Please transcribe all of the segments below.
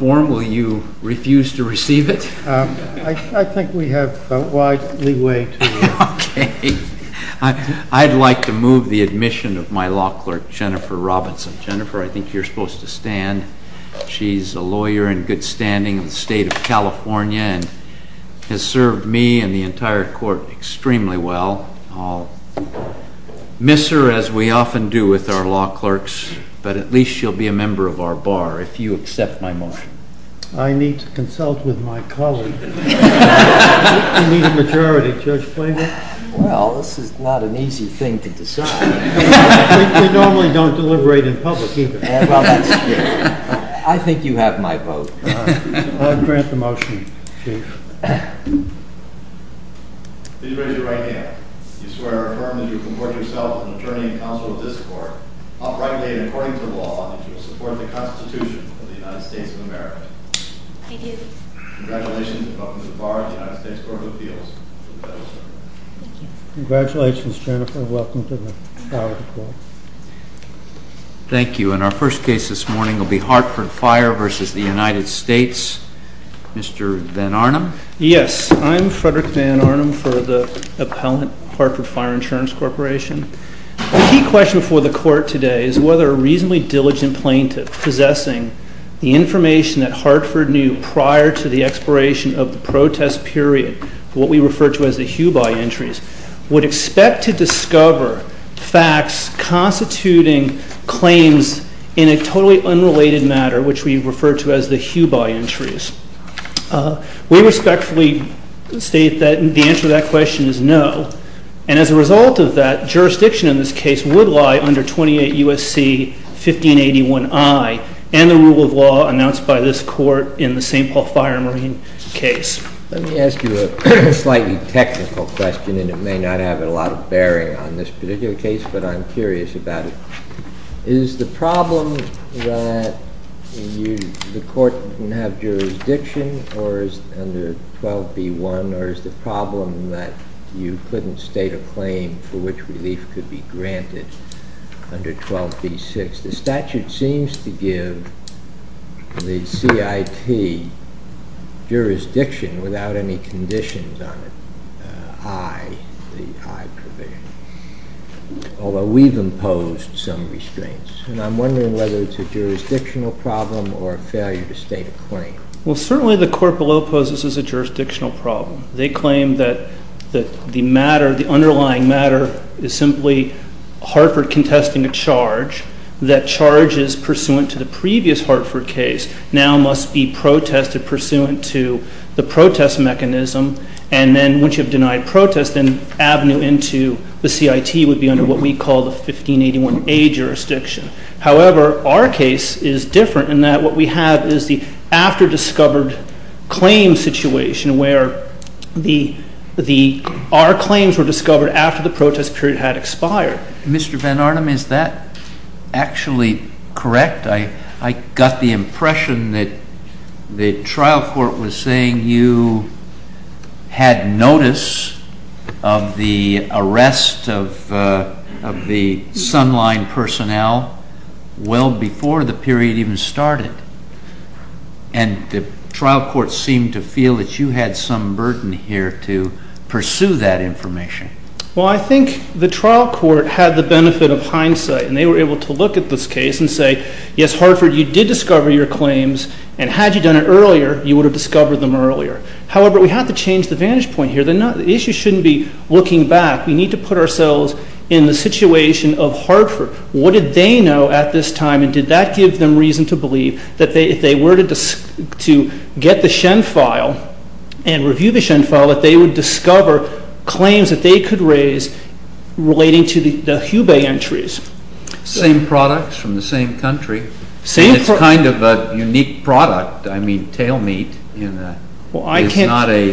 Will you refuse to receive it? I think we have a wide leeway to do that. I'd like to move the admission of my law clerk, Jennifer Robinson. Jennifer, I think you're supposed to stand. She's a lawyer in good standing in the state of California and has served me and the entire court extremely well. I'll miss her, as we often do with our law clerks, but at least she'll be a member of our bar if you accept my motion. I need to consult with my colleague. You need a majority, Judge Flanagan. Well, this is not an easy thing to decide. We normally don't deliberate in public either. I think you have my vote. I'll grant the motion, Chief. Please raise your right hand. Do you swear or affirm that you comport yourself uprightly and according to law, and that you will support the Constitution of the United States of America? I do. Congratulations, and welcome to the bar of the United States Court of Appeals. Congratulations, Jennifer, and welcome to the bar of the court. Thank you. And our first case this morning will be Hartford Fire v. The United States. Mr. Van Arnum? Yes, I'm Frederick Van Arnum for the appellant Hartford Fire Insurance Corporation. The key question before the court today is whether a reasonably diligent plaintiff possessing the information that Hartford knew prior to the expiration of the protest period, what we refer to as the HUBI entries, would expect to discover facts constituting claims in a totally unrelated matter, which we refer to as the HUBI entries. We respectfully state that the answer to that question is no. And as a result of that, jurisdiction in this case would lie under 28 U.S.C. 1581I and the rule of law announced by this court in the St. Paul Fire and Marine case. Let me ask you a slightly technical question, and it may not have a lot of bearing on this particular case, but I'm curious about it. Is the problem that the court didn't have jurisdiction or is under 12b1, or is the problem that you couldn't state a claim for which relief could be granted under 12b6? The statute seems to give the CIT jurisdiction without any conditions on it, I, the I provision, although we've imposed some restraints. And I'm wondering whether it's a jurisdictional problem or a failure to state a claim. Well, certainly the court below poses as a jurisdictional problem. They claim that the matter, the underlying matter, is simply Hartford contesting a charge. That charge is pursuant to the previous Hartford case, now must be protested pursuant to the protest mechanism. And then once you've denied protest, then avenue into the CIT would be under what we call the 1581A jurisdiction. However, our case is different in that what we have is the after-discovered claim situation, where our claims were discovered after the protest period had expired. Mr. Van Arnam, is that actually correct? I got the impression that the trial court was saying you had notice of the arrest of the Sunline personnel well before the period even started. And the trial court seemed to feel that you had some burden here to pursue that information. Well, I think the trial court had the benefit of hindsight. And they were able to look at this case and say, yes, Hartford, you did discover your claims. And had you done it earlier, you would have discovered them earlier. However, we have to change the vantage point here. The issue shouldn't be looking back. We need to put ourselves in the situation of Hartford. What did they know at this time? And did that give them reason to believe that if they were to get the Shen file and review the Shen file, that they would discover claims that they could raise relating to the Hubei entries? Same products from the same country. Same products. And it's kind of a unique product. I mean, tail meat is not a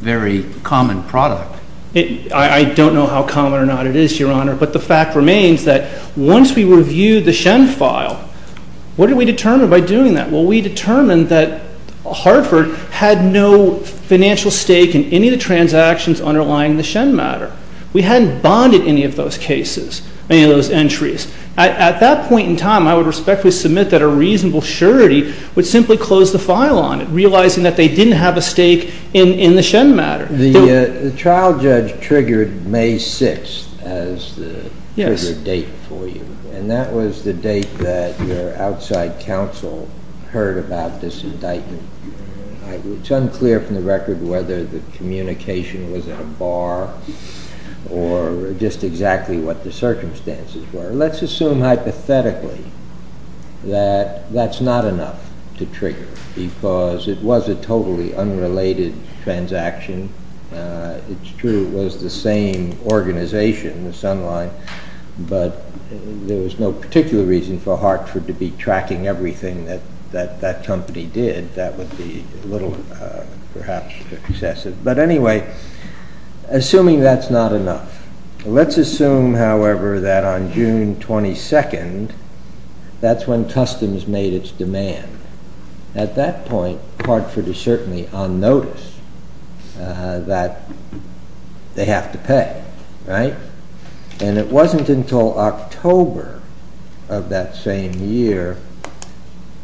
very common product. I don't know how common or not it is, Your Honor. But the fact remains that once we reviewed the Shen file, what did we determine by doing that? Well, we determined that Hartford had no financial stake in any of the transactions underlying the Shen matter. We hadn't bonded any of those cases, any of those entries. At that point in time, I would respectfully submit that a reasonable surety would simply close the file on it, realizing that they didn't have a stake in the Shen matter. The trial judge triggered May 6 as the trigger date for you. And that was the date that your outside counsel heard about this indictment. It's unclear from the record whether the communication was at a bar or just exactly what the circumstances were. Let's assume hypothetically that that's not enough to trigger, because it was a totally unrelated transaction. It's true it was the same organization, the Sun Line. But there was no particular reason for Hartford to be tracking everything that that company did. That would be a little, perhaps, excessive. But anyway, assuming that's not enough, let's assume, however, that on June 22, that's when customs made its demand. At that point, Hartford is certainly on notice that they have to pay, right? And it wasn't until October of that same year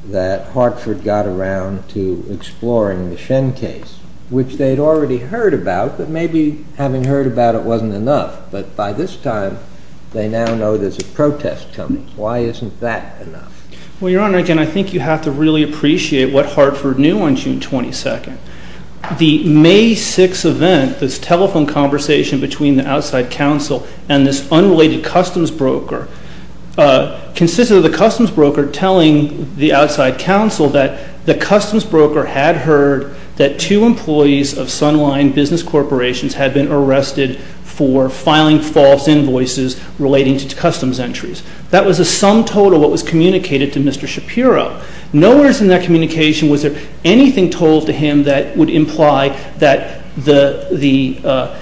that Hartford got around to exploring the Shen case, which they'd already heard about, but maybe having heard about it wasn't enough. But by this time, they now know there's a protest coming. Why isn't that enough? Well, Your Honor, again, I think you have to really appreciate what Hartford knew on June 22. The May 6 event, this telephone conversation between the outside counsel and this unrelated customs broker, consisted of the customs broker telling the outside counsel that the customs broker had heard that two employees of Sun Line Business Corporations had been arrested for filing false invoices relating to customs entries. That was a sum total of what was communicated to Mr. Shapiro. Nowhere in that communication was there anything told to him that would imply that the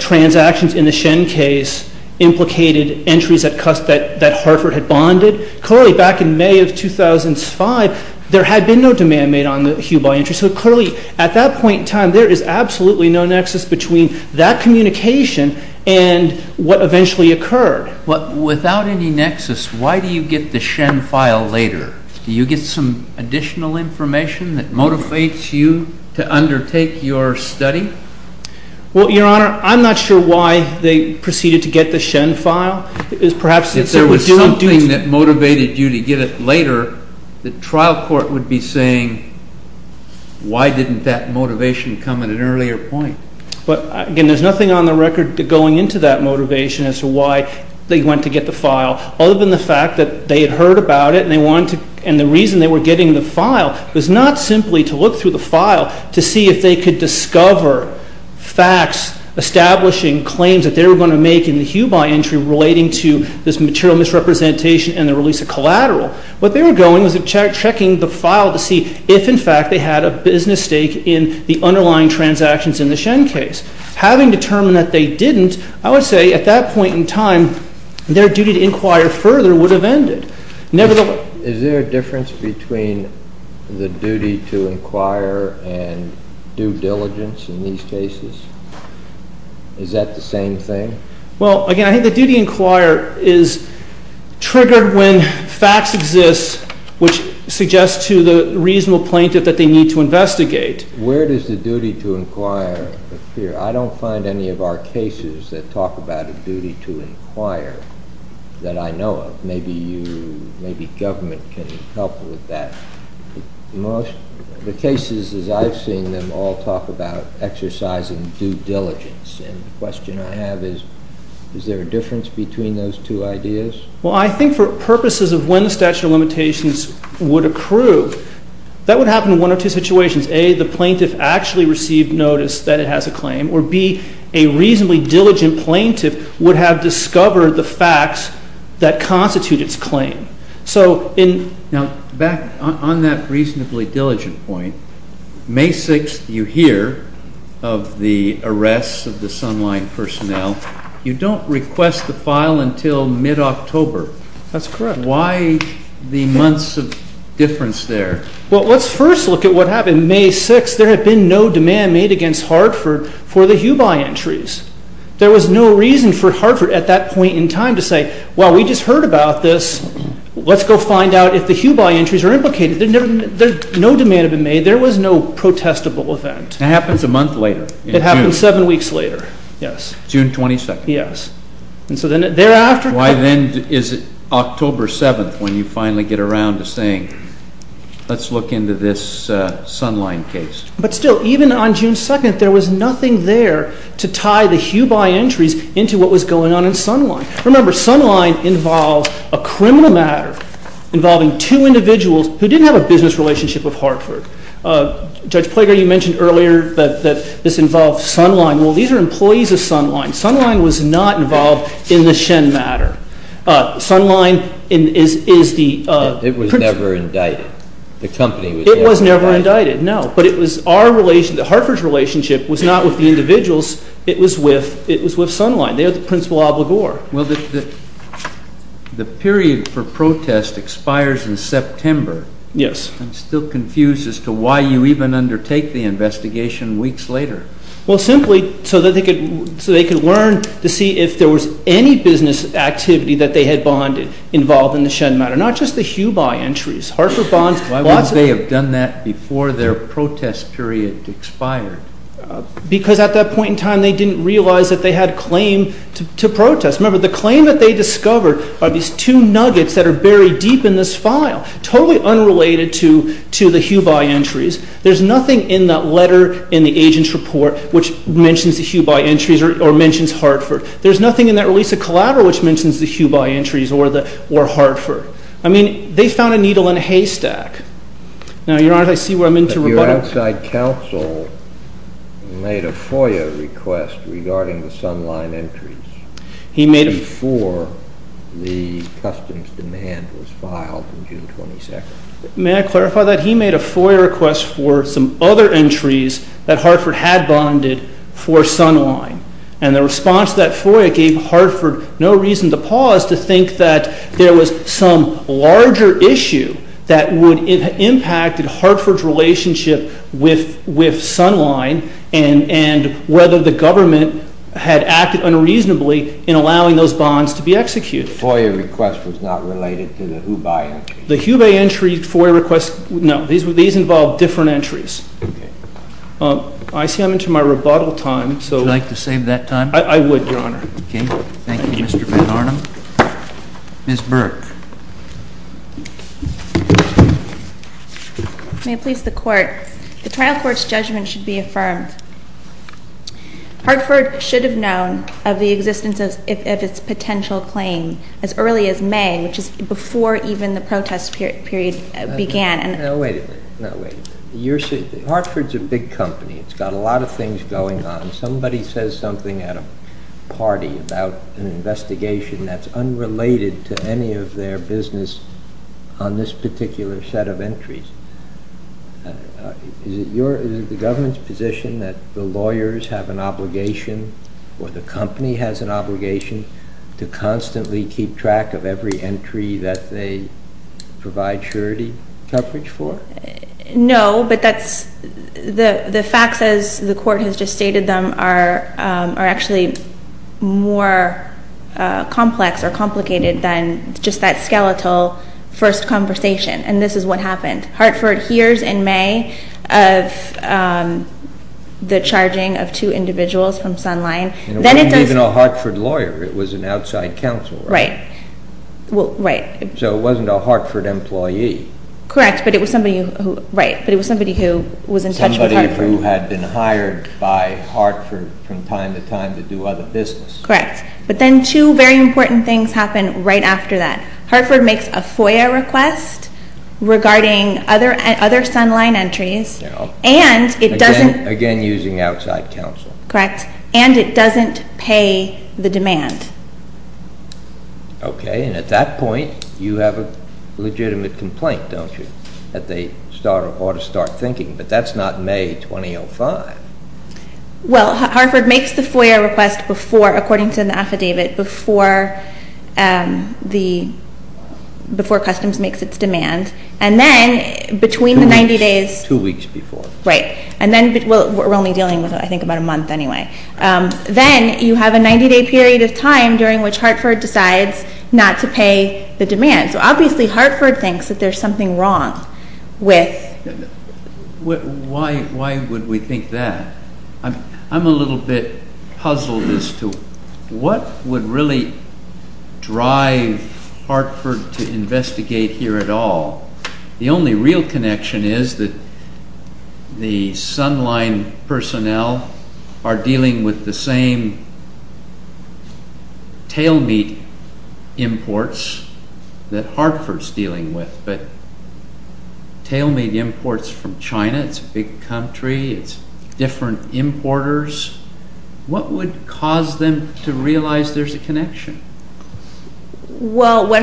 transactions in the Shen case implicated entries that Hartford had bonded. Clearly, back in May of 2005, there had been no demand made on the Hubei entry. So clearly, at that point in time, there is absolutely no nexus between that communication and what eventually occurred. Without any nexus, why do you get the Shen file later? Do you get some additional information that motivates you to undertake your study? Well, Your Honor, I'm not sure why they proceeded to get the Shen file. Perhaps it was due to a duty. If there was something that motivated you to get it later, the trial court would be saying, why didn't that motivation come at an earlier point? But again, there's nothing on the record going into that motivation as to why they went to get the file, other than the fact that they had heard about it. And the reason they were getting the file was not simply to look through the file to see if they could discover facts establishing claims that they were going to make in the Hubei entry relating to this material misrepresentation and the release of collateral. What they were going was checking the file to see if, in fact, they had a business stake in the underlying transactions in the Shen case. Having determined that they didn't, I would say, at that point in time, their duty to inquire further would have ended. Is there a difference between the duty to inquire and due diligence in these cases? Is that the same thing? Well, again, I think the duty to inquire is triggered when facts exist which suggest to the reasonable plaintiff that they need to investigate. Where does the duty to inquire appear? I don't find any of our cases that talk about a duty to inquire that I know of. Maybe you, maybe government can help with that. The cases as I've seen them all talk about exercising due diligence. And the question I have is, is there a difference between those two ideas? Well, I think for purposes of when the statute of limitations would approve, that would happen in one or two situations. A, the plaintiff actually received notice that it has a claim. Or B, a reasonably diligent plaintiff would have discovered the facts that constitute its claim. So in- Now, back on that reasonably diligent point, May 6th you hear of the arrests of the Sunline personnel. You don't request the file until mid-October. That's correct. Why the months of difference there? Well, let's first look at what happened. In May 6th, there had been no demand made against Hartford for the Hubeye entries. There was no reason for Hartford at that point in time to say, well, we just heard about this. Let's go find out if the Hubeye entries are implicated. No demand had been made. There was no protestable event. It happens a month later. It happens seven weeks later. Yes. June 22nd. Yes. And so then thereafter- Why then is it October 7th when you finally get around to saying, let's look into this Sunline case? But still, even on June 2nd, there was nothing there to tie the Hubeye entries into what was going on in Sunline. Remember, Sunline involved a criminal matter involving two individuals who didn't have a business relationship with Hartford. Judge Plager, you mentioned earlier that this involved Sunline. Well, these are employees of Sunline. Sunline was not involved in the Shen matter. Sunline is the- It was never indicted. The company was never indicted. It was never indicted, no. But Hartford's relationship was not with the individuals. It was with Sunline. They are the principal obligor. Well, the period for protest expires in September. Yes. I'm still confused as to why you even undertake the investigation weeks later. Well, simply so they could learn to see if there was any business activity that they had bonded involved in the Shen matter, not just the Hubeye entries. Hartford bonds, lots of- Why wouldn't they have done that before their protest period expired? Because at that point in time, they didn't realize that they had a claim to protest. Remember, the claim that they discovered are these two nuggets that are buried deep in this file, totally unrelated to the Hubeye entries. There's nothing in that letter in the agent's report which mentions the Hubeye entries or mentions Hartford. There's nothing in that release of collateral which mentions the Hubeye entries or Hartford. I mean, they found a needle in a haystack. Now, Your Honor, I see where I'm into rebuttal. But your outside counsel made a FOIA request regarding the Sunline entries before the customs demand was filed on June 22. May I clarify that? He made a FOIA request for some other entries that Hartford had bonded for Sunline. And the response to that FOIA gave Hartford no reason to pause to think that there was some larger issue that would have impacted Hartford's relationship with Sunline and whether the government had acted unreasonably in allowing those bonds to be executed. The FOIA request was not related to the Hubeye entry. The Hubeye entry FOIA request, no. These involved different entries. I see I'm into my rebuttal time. Would you like to save that time? I would, Your Honor. OK. Thank you, Mr. Van Arnam. Ms. Burke. May it please the court, the trial court's judgment should be affirmed. Hartford should have known of the existence of its potential claim as early as May, which is before even the protest period began. No, wait a minute. No, wait a minute. Hartford's a big company. It's got a lot of things going on. Somebody says something at a party about an investigation that's unrelated to any of their business on this particular set of entries. Is it the government's position that the lawyers have an obligation or the company has an obligation to constantly keep track of every entry that they provide surety coverage for? No, but that's the facts as the court has just stated them are actually more complex or complicated than just that skeletal first conversation. And this is what happened. Hartford hears in May of the charging of two individuals from Sunline. It wasn't even a Hartford lawyer. It was an outside counsel, right? Right. Well, right. So it wasn't a Hartford employee. Correct, but it was somebody who was in touch with Hartford. Who had been hired by Hartford from time to time to do other business. Correct, but then two very important things happen right after that. Hartford makes a FOIA request regarding other Sunline entries and it doesn't. Again, using outside counsel. Correct, and it doesn't pay the demand. OK, and at that point, you have a legitimate complaint, don't you? That they ought to start thinking, but that's not May 2005. Well, Hartford makes the FOIA request according to the affidavit before Customs makes its demand. And then between the 90 days. Two weeks before. Right, and then we're only dealing with, I think, about a month anyway. Then you have a 90 day period of time during which Hartford decides not to pay the demand. So obviously Hartford thinks that there's something wrong with. Why would we think that? I'm a little bit puzzled as to what would really drive Hartford to investigate here at all. The only real connection is that the Sunline personnel are dealing with the same tail meat imports that Hartford's dealing with. But tail meat imports from China, it's a big country, it's different importers. What would cause them to realize there's a connection? Well, what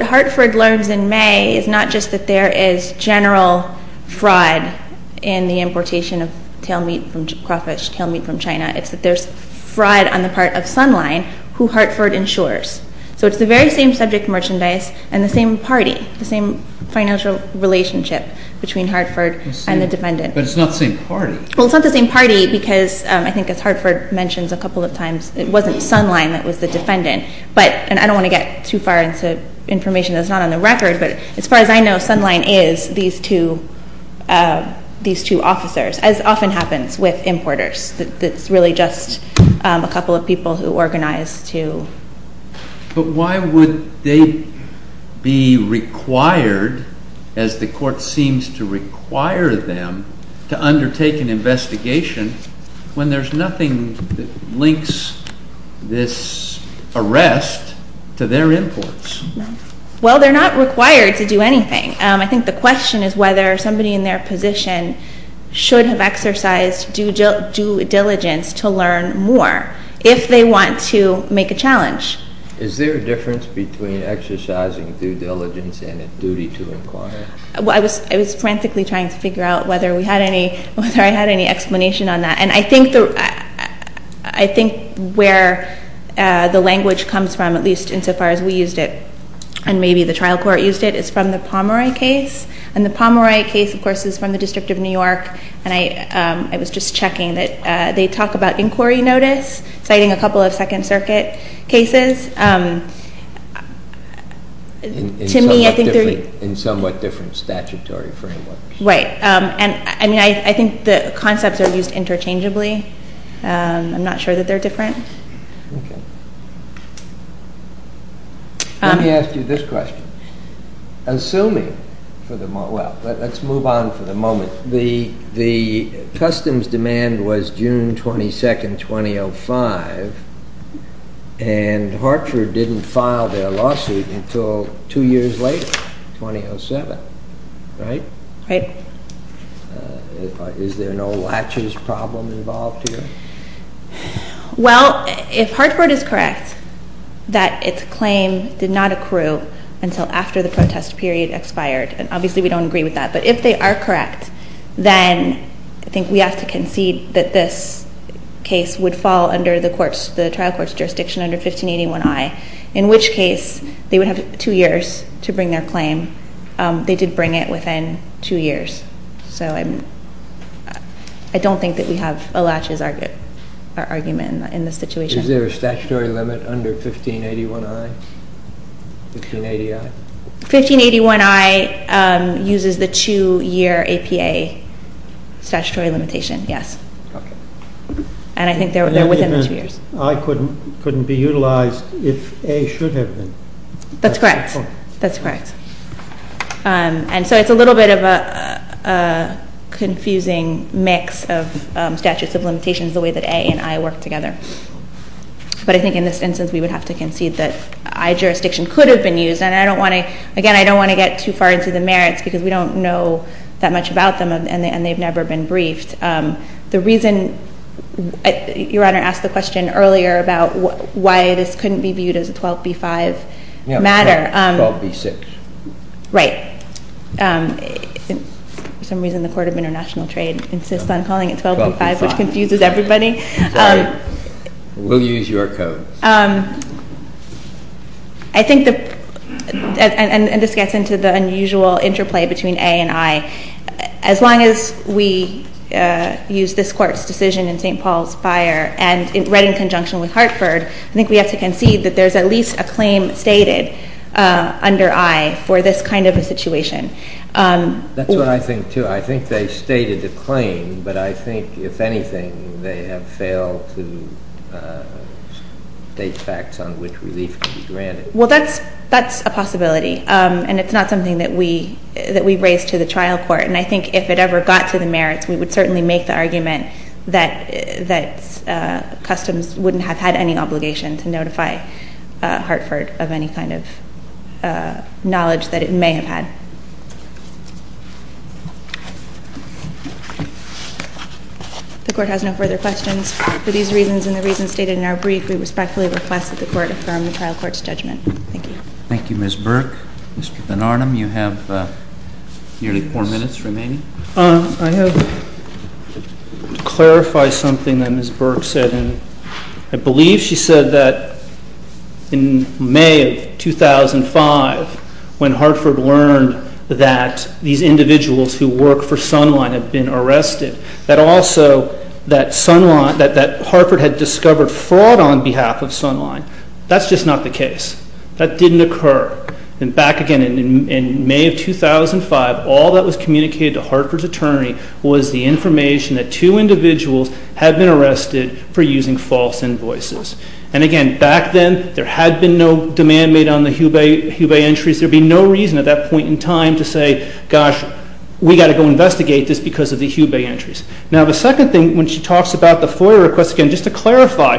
Hartford learns in May is not just that there is general fraud in the importation of tail meat from crawfish, tail meat from China. It's that there's fraud on the part of Sunline who Hartford insures. So it's the very same subject merchandise and the same party, the same financial relationship between Hartford and the defendant. But it's not the same party. Well, it's not the same party because I think as Hartford mentions a couple of times, it wasn't Sunline that was the defendant. And I don't want to get too far into information that's not on the record. But as far as I know, Sunline is these two officers, as often happens with importers. It's really just a couple of people who organize to. But why would they be required, as the court seems to require them, to undertake an investigation when there's nothing that links this arrest to their imports? Well, they're not required to do anything. I think the question is whether somebody in their position should have exercised due diligence to learn more if they want to make a challenge. Is there a difference between exercising due diligence and a duty to inquire? Well, I was frantically trying to figure out whether I had any explanation on that. And I think where the language comes from, at least insofar as we used it and maybe the trial court used it, is from the Pomeroy case. And the Pomeroy case, of course, is from the District of New York. And I was just checking that they talk about inquiry notice, citing a couple of Second Circuit cases. To me, I think they're in somewhat different statutory frameworks. Right. And I think the concepts are used interchangeably. I'm not sure that they're different. OK. Let me ask you this question. Assuming for the moment, well, let's move on for the moment. The customs demand was June 22, 2005. And Hartford didn't file their lawsuit until two years later, 2007, right? Right. Is there no latches problem involved here? Well, if Hartford is correct that its claim did not accrue until after the protest period expired, and obviously we don't agree with that. But if they are correct, then I think we have to concede that this case would fall under the trial court's jurisdiction under 1581I, in which case they would have two years to bring their claim. They did bring it within two years. So I don't think that we have a latches argument in this situation. Is there a statutory limit under 1581I? 1580I? 1581I uses the two-year APA statutory limitation, yes. And I think they're within the two years. I couldn't be utilized if A should have been. That's correct. That's correct. And so it's a little bit of a confusing mix of statutes of limitations, the way that A and I work together. But I think in this instance, we would have to concede that I jurisdiction could have been used. Again, I don't want to get too far into the merits, because we don't know that much about them, and they've never been briefed. The reason your Honor asked the question earlier about why this couldn't be viewed as a 12B5 matter. Yeah, 12B6. Right. For some reason, the Court of International Trade insists on calling it 12B5, which confuses everybody. We'll use your code. I think that, and this gets into the unusual interplay between A and I, as long as we use this court's decision in St. Paul's Fire, and read in conjunction with Hartford, I think we have to concede that there's at least a claim stated under I for this kind of a situation. That's what I think, too. I think they stated a claim, but I think, if anything, they have failed to state facts on which relief can be granted. Well, that's a possibility, and it's not something that we raise to the trial court. And I think if it ever got to the merits, we would certainly make the argument that Customs wouldn't have had any obligation to notify Hartford of any kind of knowledge that it may have had. The court has no further questions. For these reasons and the reasons stated in our brief, we respectfully request that the court affirm the trial court's judgment. Thank you. Thank you, Ms. Burke. Mr. Ben-Arnim, you have nearly four minutes remaining. I have to clarify something that Ms. Burke said. I believe she said that in May of 2005, when Hartford learned that these individuals who work for Sunline had been arrested, that also that Sunline, that Hartford had discovered fraud on behalf of Sunline. That's just not the case. That didn't occur. And back again in May of 2005, all that was communicated to Hartford's attorney was the information that two individuals had been arrested for using false invoices. And again, back then, there had been no demand made on the Hubei entries. There'd be no reason at that point in time to say, gosh, we've got to go investigate this because of the Hubei entries. Now, the second thing, when she talks about the FOIA request, again, just to clarify,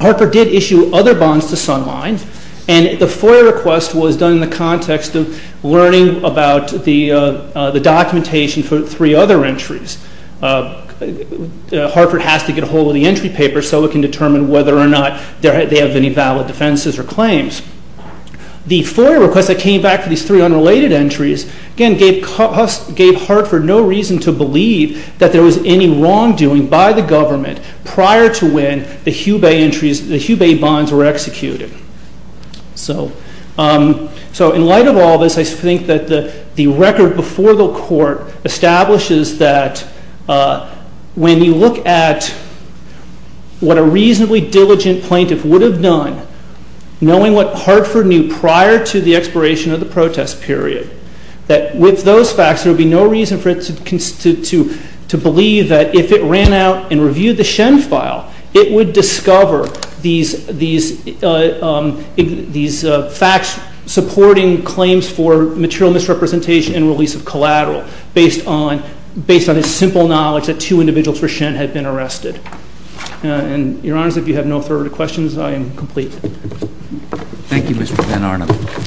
Hartford did issue other bonds to Sunline, and the FOIA request was done in the context of learning about the documentation for three other entries. Hartford has to get a hold of the entry paper so it can determine whether or not they have any valid defenses or claims. The FOIA request that came back for these three unrelated entries, again, gave Hartford no reason to believe that there was any wrongdoing by the government prior to when the Hubei entries, the Hubei bonds were executed. So in light of all this, I think that the record before the court establishes that when you look at what a reasonably diligent plaintiff would have done, knowing what Hartford knew prior to the expiration of the protest period, that with those facts, there would be no reason for it to believe that if it ran out and reviewed the Shen file, it would discover these facts supporting claims for material misrepresentation and release of collateral based on a simple knowledge that two individuals for Shen had been arrested. And your honors, if you have no further questions, I am complete. Thank you, Mr. Van Arnam.